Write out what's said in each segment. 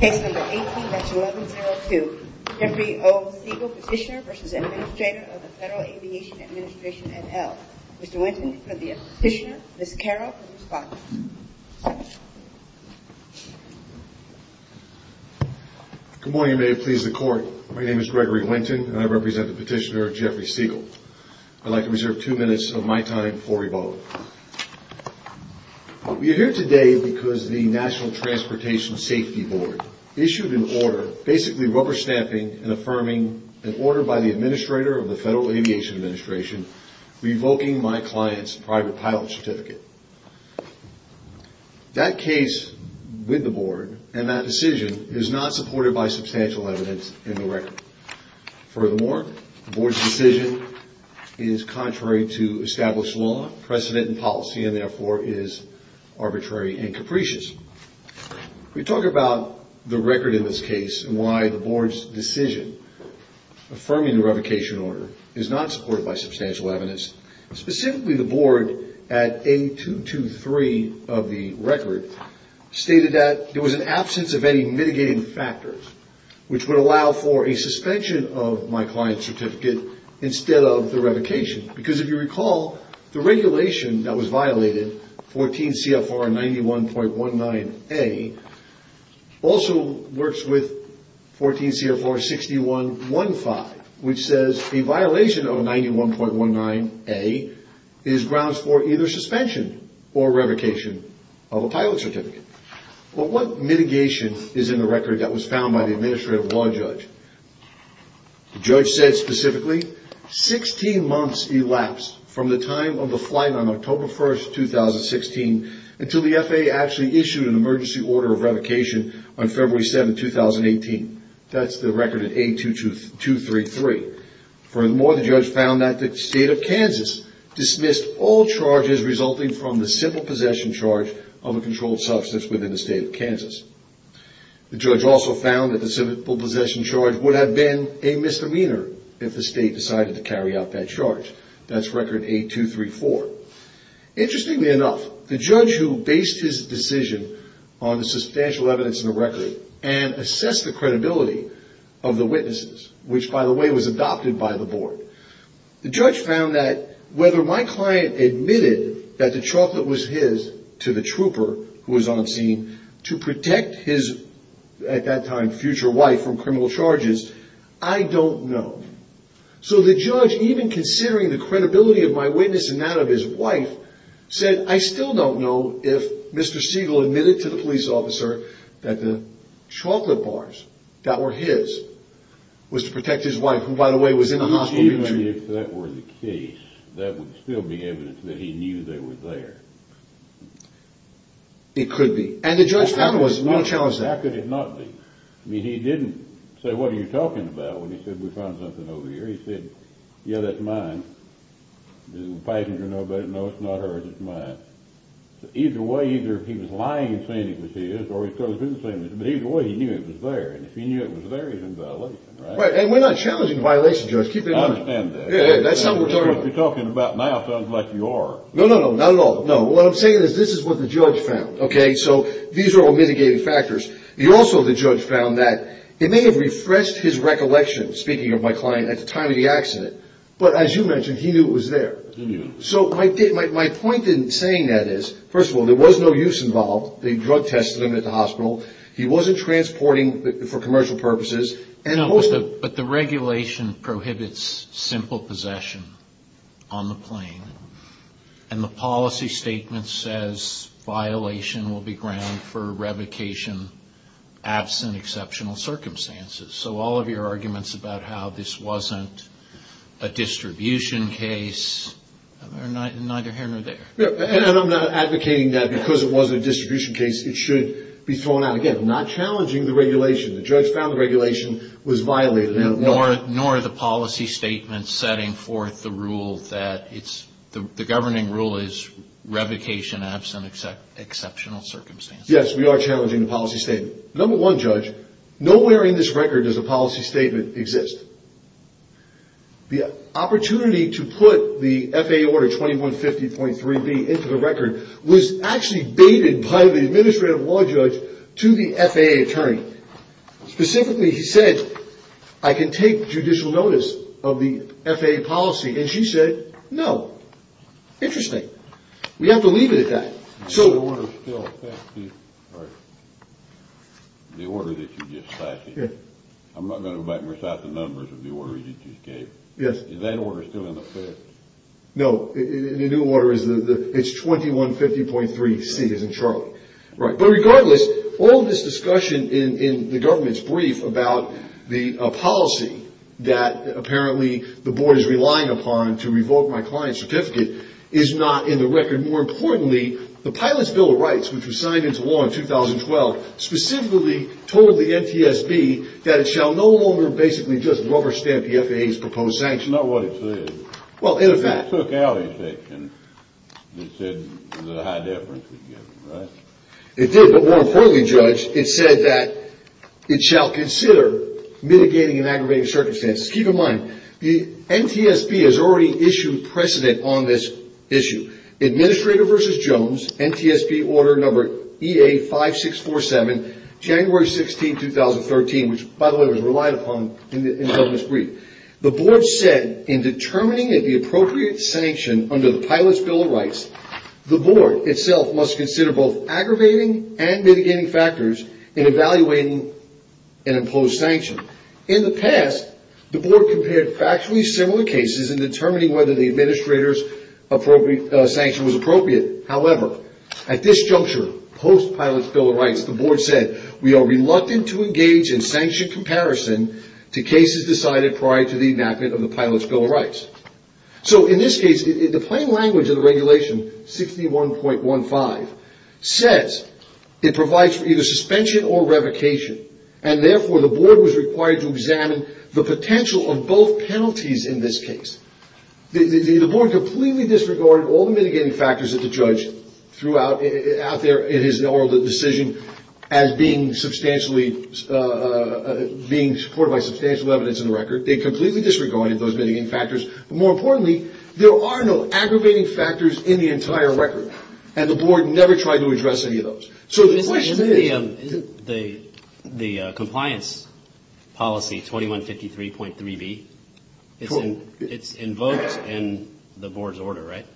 Case number 18-1102. Jeffrey O. Siegel, Petitioner v. Administrator of the Federal Aviation Administration, et al. Mr. Winton for the Petitioner, Ms. Carroll for the Respondent. Good morning, and may it please the Court. My name is Gregory Winton, and I represent the Petitioner, Jeffrey Siegel. I'd like to reserve two minutes of my time for rebuttal. We are here today because the National Transportation Safety Board issued an order basically rubber-stamping and affirming an order by the Administrator of the Federal Aviation Administration revoking my client's private pilot certificate. That case with the Board and that decision is not supported by substantial evidence in the record. Furthermore, the Board's decision is contrary to established law, precedent in policy, and therefore is arbitrary and capricious. We talk about the record in this case and why the Board's decision affirming the revocation order is not supported by substantial evidence. Specifically, the Board at A.223 of the record stated that there was an absence of any mitigating factors which would allow for a suspension of my client's certificate instead of the revocation. Because if you recall, the regulation that was violated, 14 CFR 91.19A, also works with 14 CFR 61.15, which says a violation of 91.19A is grounds for either suspension or revocation of a pilot certificate. But what mitigation is in the record that was found by the Administrative Law Judge? The judge said specifically, 16 months elapsed from the time of the flight on October 1, 2016, until the FAA actually issued an emergency order of revocation on February 7, 2018. That's the record at A.223. Furthermore, the judge found that the state of Kansas dismissed all charges resulting from the civil possession charge of a controlled substance within the state of Kansas. The judge also found that the civil possession charge would have been a misdemeanor if the state decided to carry out that charge. That's record A.234. Interestingly enough, the judge who based his decision on the substantial evidence in the record and assessed the credibility of the witnesses, which, by the way, was adopted by the board, the judge found that whether my client admitted that the chocolate was his to the trooper who was on scene to protect his, at that time, future wife from criminal charges, I don't know. So the judge, even considering the credibility of my witness and that of his wife, said, I still don't know if Mr. Siegel admitted to the police officer that the chocolate bars that were his was to protect his wife, who, by the way, was in the hospital. Even if that were the case, that would still be evidence that he knew they were there. It could be. And the judge found it was. How could it not be? I mean, he didn't say, what are you talking about, when he said we found something over here. He said, yeah, that's mine. The passenger, no, it's not hers, it's mine. Either way, either he was lying in saying it was his, or he could have been saying it was his, but either way, he knew it was there. And if he knew it was there, he's in violation, right? Right, and we're not challenging violation, Judge. Keep it honest. I understand that. That's not what we're talking about. What you're talking about now sounds like you are. No, no, no, not at all. No, what I'm saying is this is what the judge found, okay? So these are all mitigating factors. Also, the judge found that it may have refreshed his recollection, speaking of my client, at the time of the accident, but as you mentioned, he knew it was there. He knew. So my point in saying that is, first of all, there was no use involved. They drug tested him at the hospital. He wasn't transporting for commercial purposes. No, but the regulation prohibits simple possession on the plane, and the policy statement says violation will be grounded for revocation absent exceptional circumstances. So all of your arguments about how this wasn't a distribution case are neither here nor there. And I'm not advocating that because it wasn't a distribution case it should be thrown out. Again, I'm not challenging the regulation. The judge found the regulation was violated. Nor the policy statement setting forth the rule that it's the governing rule is revocation absent exceptional circumstances. Yes, we are challenging the policy statement. Number one, judge, nowhere in this record does a policy statement exist. The opportunity to put the FAA order 2150.3b into the record was actually baited by the administrative law judge to the FAA attorney. Specifically, he said, I can take judicial notice of the FAA policy, and she said, no. Interesting. We have to leave it at that. The order that you just cited, I'm not going to go back and recite the numbers of the order you just gave. Is that order still in effect? No, the new order is 2150.3c as in Charlie. But regardless, all of this discussion in the government's brief about the policy that apparently the board is relying upon to revoke my client's certificate is not in the record. More importantly, the pilot's bill of rights, which was signed into law in 2012, specifically told the NTSB that it shall no longer basically just rubber stamp the FAA's proposed sanctions. Not what it said. Well, in effect. It took out a section that said the high deference was given, right? It did, but more importantly, judge, it said that it shall consider mitigating and aggravating circumstances. Keep in mind, the NTSB has already issued precedent on this issue. Administrator versus Jones, NTSB order number EA5647, January 16, 2013, which, by the way, was relied upon in the government's brief. The board said in determining the appropriate sanction under the pilot's bill of rights, the board itself must consider both aggravating and mitigating factors in evaluating an imposed sanction. In the past, the board compared factually similar cases in determining whether the administrator's sanction was appropriate. However, at this juncture, post pilot's bill of rights, the board said, we are reluctant to engage in sanction comparison to cases decided prior to the enactment of the pilot's bill of rights. So in this case, the plain language of the regulation, 61.15, says it provides for either suspension or revocation. And therefore, the board was required to examine the potential of both penalties in this case. The board completely disregarded all the mitigating factors that the judge threw out there in his oral decision as being substantially, being supported by substantial evidence in the record. They completely disregarded those mitigating factors. But more importantly, there are no aggravating factors in the entire record. And the board never tried to address any of those. So the question is... The compliance policy, 2153.3b, it's invoked in the board's order, right?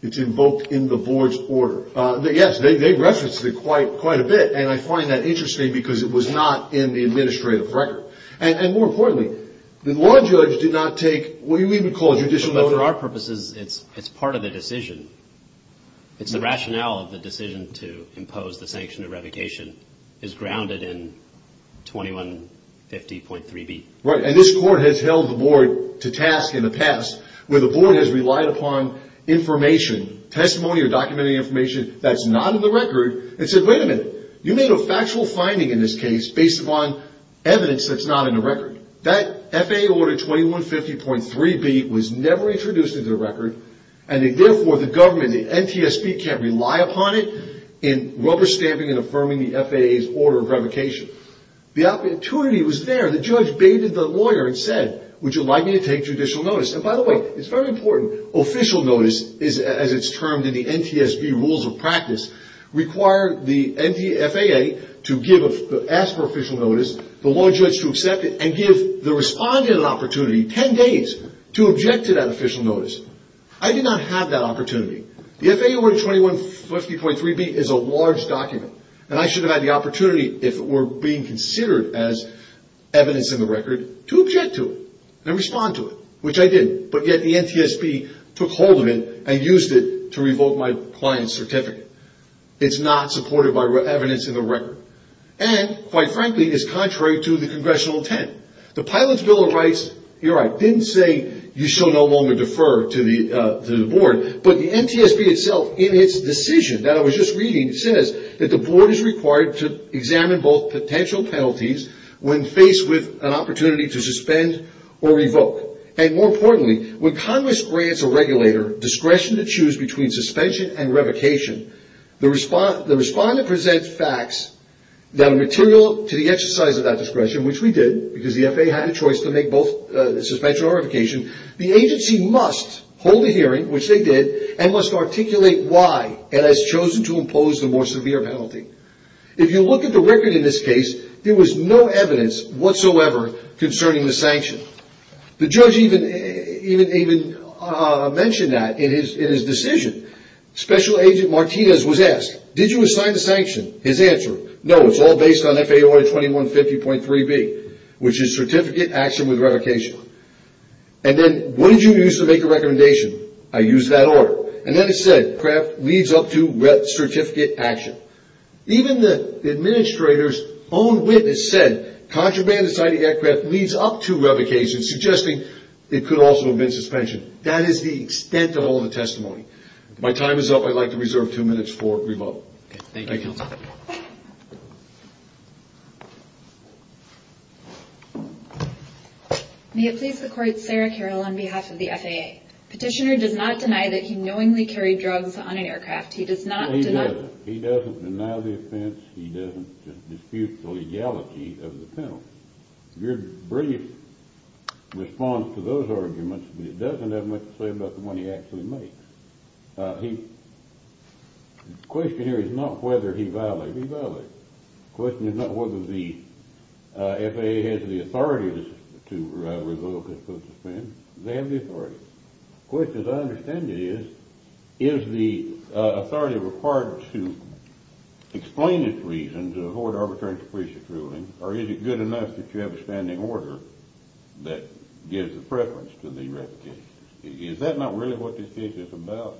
It's invoked in the board's order. Yes, they referenced it quite a bit. And I find that interesting because it was not in the administrative record. And more importantly, the law judge did not take what we would call judicial... But for our purposes, it's part of the decision. It's the rationale of the decision to impose the sanction of revocation is grounded in 2150.3b. Right. And this court has held the board to task in the past where the board has relied upon information, testimony or documented information that's not in the record and said, wait a minute. You made a factual finding in this case based upon evidence that's not in the record. That FAA order 2150.3b was never introduced into the record. And therefore, the government, the NTSB can't rely upon it in rubber stamping and affirming the FAA's order of revocation. The opportunity was there. The judge baited the lawyer and said, would you like me to take judicial notice? And by the way, it's very important. Official notice, as it's termed in the NTSB rules of practice, require the FAA to ask for official notice, the law judge to accept it and give the respondent an opportunity, 10 days, to object to that official notice. I did not have that opportunity. The FAA order 2150.3b is a large document. And I should have had the opportunity, if it were being considered as evidence in the record, to object to it and respond to it, which I did. But yet the NTSB took hold of it and used it to revoke my client's certificate. It's not supported by evidence in the record. And, quite frankly, it's contrary to the Congressional intent. The Pilots' Bill of Rights, here I didn't say you shall no longer defer to the board. But the NTSB itself, in its decision that I was just reading, says that the board is required to examine both potential penalties when faced with an opportunity to suspend or revoke. And, more importantly, when Congress grants a regulator discretion to choose between suspension and revocation, the respondent presents facts that are material to the exercise of that discretion, which we did, because the FAA had a choice to make both suspension or revocation. The agency must hold a hearing, which they did, and must articulate why it has chosen to impose the more severe penalty. If you look at the record in this case, there was no evidence whatsoever concerning the sanction. The judge even mentioned that in his decision. Special Agent Martinez was asked, did you assign the sanction? His answer, no, it's all based on FAA Order 2150.3b, which is certificate action with revocation. And then, what did you use to make the recommendation? I used that order. And then it said, craft leads up to certificate action. Even the administrator's own witness said contraband inside the aircraft leads up to revocation, suggesting it could also have been suspension. That is the extent of all the testimony. My time is up. I'd like to reserve two minutes for revote. Thank you. May it please the Court, Sarah Carroll on behalf of the FAA. Petitioner does not deny that he knowingly carried drugs on an aircraft. He does not deny that. He doesn't deny the offense. He doesn't dispute the legality of the penalty. Your brief response to those arguments doesn't have much to say about the one he actually makes. The question here is not whether he violated. He violated. The question is not whether the FAA has the authority to revoke his post-offense. They have the authority. The question, as I understand it, is, is the authority required to explain its reason to avoid arbitrary suppression ruling, or is it good enough that you have a standing order that gives the preference to the revocation? Is that not really what this case is about?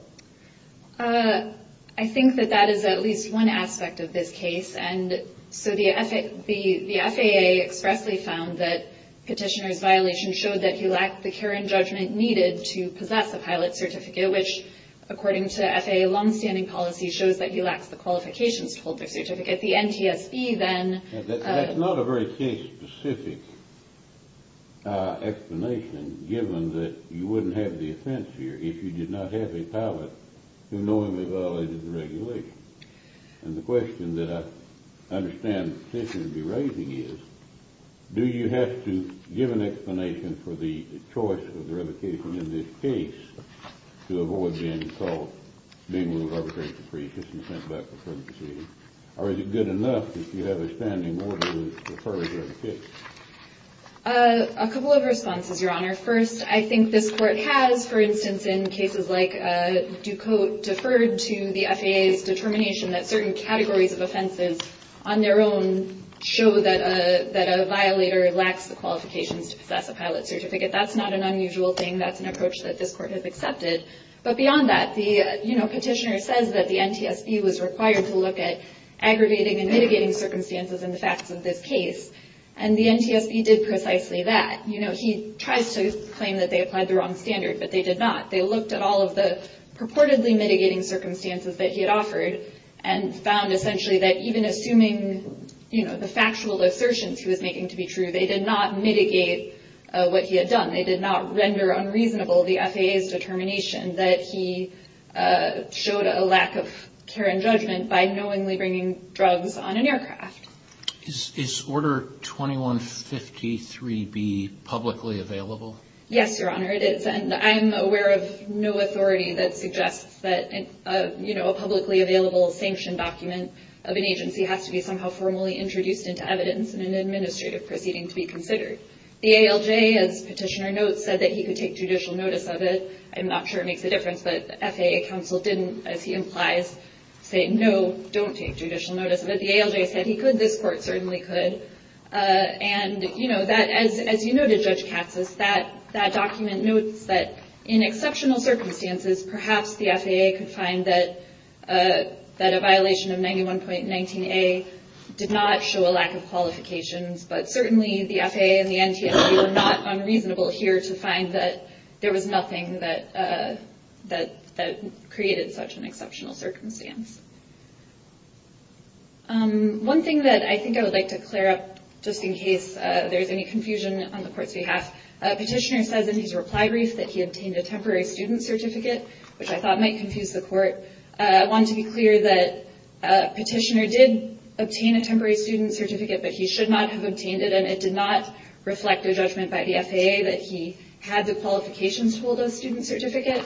I think that that is at least one aspect of this case. And so the FAA expressly found that Petitioner's violation showed that he lacked the care and judgment needed to possess a pilot certificate, which according to FAA longstanding policy shows that he lacks the qualifications to hold the certificate. The NTSB then… That's not a very case-specific explanation, given that you wouldn't have the offense here if you did not have a pilot who knowingly violated the regulation. And the question that I understand Petitioner would be raising is, do you have to give an explanation for the choice of the revocation in this case to avoid being called, being ruled arbitrary suppression and sent back for further proceedings, or is it good enough that you have a standing order that prefers revocation? A couple of responses, Your Honor. First, I think this Court has, for instance, in cases like Ducote, deferred to the FAA's determination that certain categories of offenses on their own show that a violator lacks the qualifications to possess a pilot certificate. That's not an unusual thing. That's an approach that this Court has accepted. But beyond that, the Petitioner says that the NTSB was required to look at aggravating and mitigating circumstances in the facts of this case, and the NTSB did precisely that. He tries to claim that they applied the wrong standard, but they did not. They looked at all of the purportedly mitigating circumstances that he had offered and found essentially that even assuming the factual assertions he was making to be true, they did not mitigate what he had done. They did not render unreasonable the FAA's determination that he showed a lack of care and judgment by knowingly bringing drugs on an aircraft. Is Order 2153B publicly available? Yes, Your Honor, it is, and I'm aware of no authority that suggests that a publicly available sanction document of an agency has to be somehow formally introduced into evidence in an administrative proceeding to be considered. The ALJ, as Petitioner notes, said that he could take judicial notice of it. I'm not sure it makes a difference, but FAA counsel didn't, as he implies, say, no, don't take judicial notice of it. The ALJ said he could, this Court certainly could, and as you noted, Judge Katsas, that document notes that in exceptional circumstances, perhaps the FAA could find that a violation of 91.19a did not show a lack of qualifications, but certainly the FAA and the NTSB were not unreasonable here to find that there was nothing that created such an exceptional circumstance. One thing that I think I would like to clear up, just in case there's any confusion on the Court's behalf, Petitioner says in his reply brief that he obtained a temporary student certificate, which I thought might confuse the Court. I want to be clear that Petitioner did obtain a temporary student certificate, but he should not have obtained it, and it did not reflect a judgment by the FAA that he had the qualifications to hold a student certificate.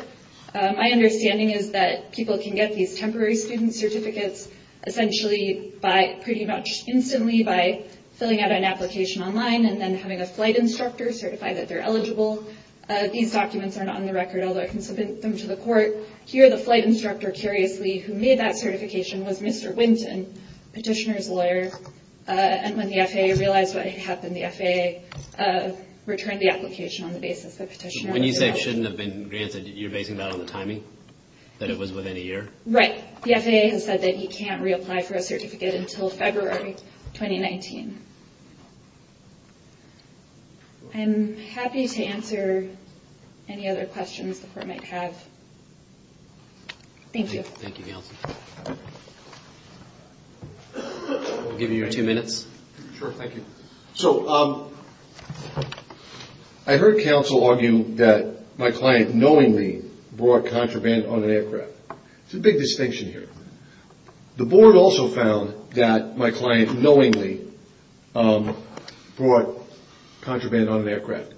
My understanding is that people can get these temporary student certificates essentially by, pretty much instantly, by filling out an application online and then having a flight instructor certify that they're eligible. These documents are not on the record, although I can submit them to the Court. Here, the flight instructor, curiously, who made that certification was Mr. Winton, and Petitioner is a lawyer, and when the FAA realized what had happened, the FAA returned the application on the basis that Petitioner was eligible. When you say it shouldn't have been granted, you're basing that on the timing, that it was within a year? Right. The FAA has said that he can't reapply for a certificate until February 2019. I'm happy to answer any other questions the Court might have. Thank you. Thank you, Gail. I'll give you your two minutes. Sure, thank you. So, I heard counsel argue that my client knowingly brought contraband on an aircraft. There's a big distinction here. The Board also found that my client knowingly brought contraband on an aircraft.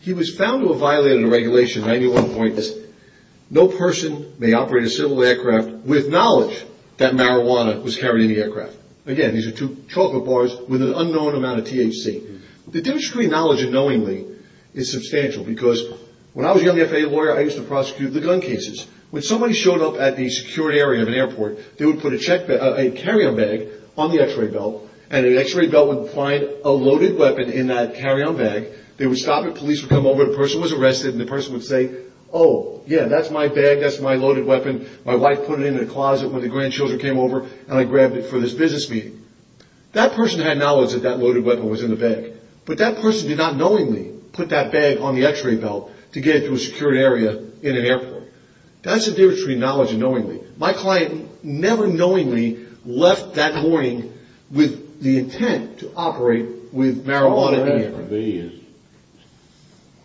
He was found to have violated a regulation, 91.6, no person may operate a civil aircraft with knowledge that marijuana was carried in the aircraft. Again, these are two chocolate bars with an unknown amount of THC. The difference between knowledge and knowingly is substantial, because when I was a young FAA lawyer, I used to prosecute the gun cases. When somebody showed up at the secured area of an airport, they would put a carry-on bag on the x-ray belt, and the x-ray belt would find a loaded weapon in that carry-on bag. They would stop it. Police would come over. The person was arrested, and the person would say, oh, yeah, that's my bag, that's my loaded weapon. My wife put it in the closet when the grandchildren came over, and I grabbed it for this business meeting. That person had knowledge that that loaded weapon was in the bag, but that person did not knowingly put that bag on the x-ray belt to get it to a secured area in an airport. That's the difference between knowledge and knowingly. My client never knowingly left that morning with the intent to operate with marijuana in the air.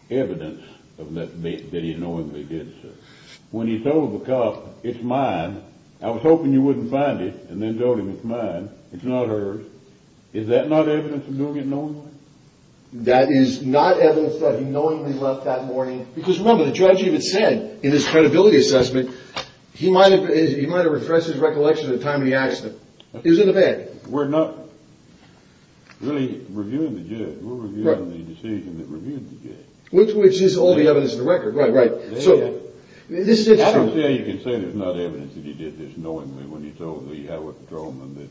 The evidence that he knowingly did, sir. When he told the cop, it's mine, I was hoping you wouldn't find it, and then told him it's mine, it's not hers, is that not evidence of doing it knowingly? That is not evidence that he knowingly left that morning. Because remember, the judge even said in his credibility assessment, he might have refreshed his recollection at the time of the accident. It was in the bag. We're not really reviewing the judge. We're reviewing the decision that reviewed the judge. Which is all the evidence on the record. Right, right. I don't see how you can say there's not evidence that he did this knowingly when he told the highway patrolman that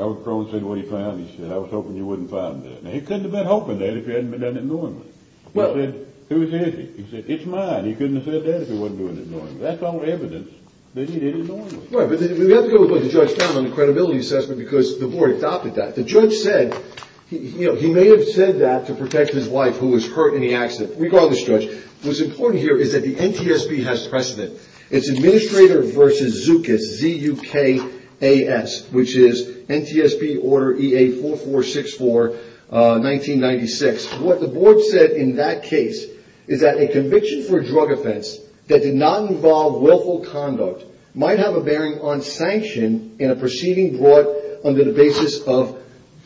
I was hoping you wouldn't find it. He couldn't have been hoping that if he hadn't done it knowingly. He said, who is this? He said, it's mine. He couldn't have said that if he wasn't doing it knowingly. That's all evidence that he did it knowingly. Right, but we have to go with what the judge found on the credibility assessment because the board adopted that. The judge said, he may have said that to protect his wife who was hurt in the accident. Regardless, Judge, what's important here is that the NTSB has precedent. It's Administrator v. Zookas, Z-U-K-A-S, which is NTSB Order EA4464, 1996. What the board said in that case is that a conviction for a drug offense that did not involve willful conduct might have a bearing on sanction in a proceeding brought under the basis of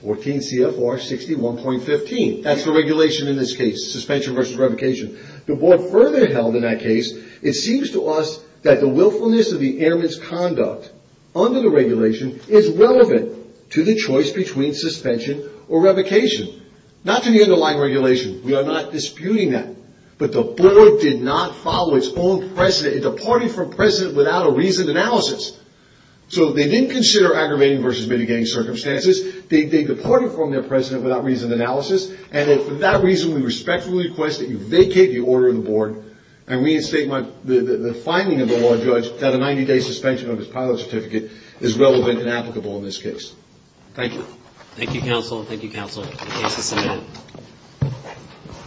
14 CFR 61.15. That's the regulation in this case, suspension versus revocation. The board further held in that case, it seems to us that the willfulness of the airman's conduct under the regulation is relevant to the choice between suspension or revocation. Not to the underlying regulation. We are not disputing that. But the board did not follow its own precedent. It departed from precedent without a reasoned analysis. So they didn't consider aggravating versus mitigating circumstances. They departed from their precedent without reasoned analysis. And for that reason, we respectfully request that you vacate the order of the board and reinstate the finding of the law judge that a 90-day suspension of his pilot certificate is relevant and applicable in this case. Thank you. Thank you, Counsel. Thank you, Counsel. Thank you, Senator.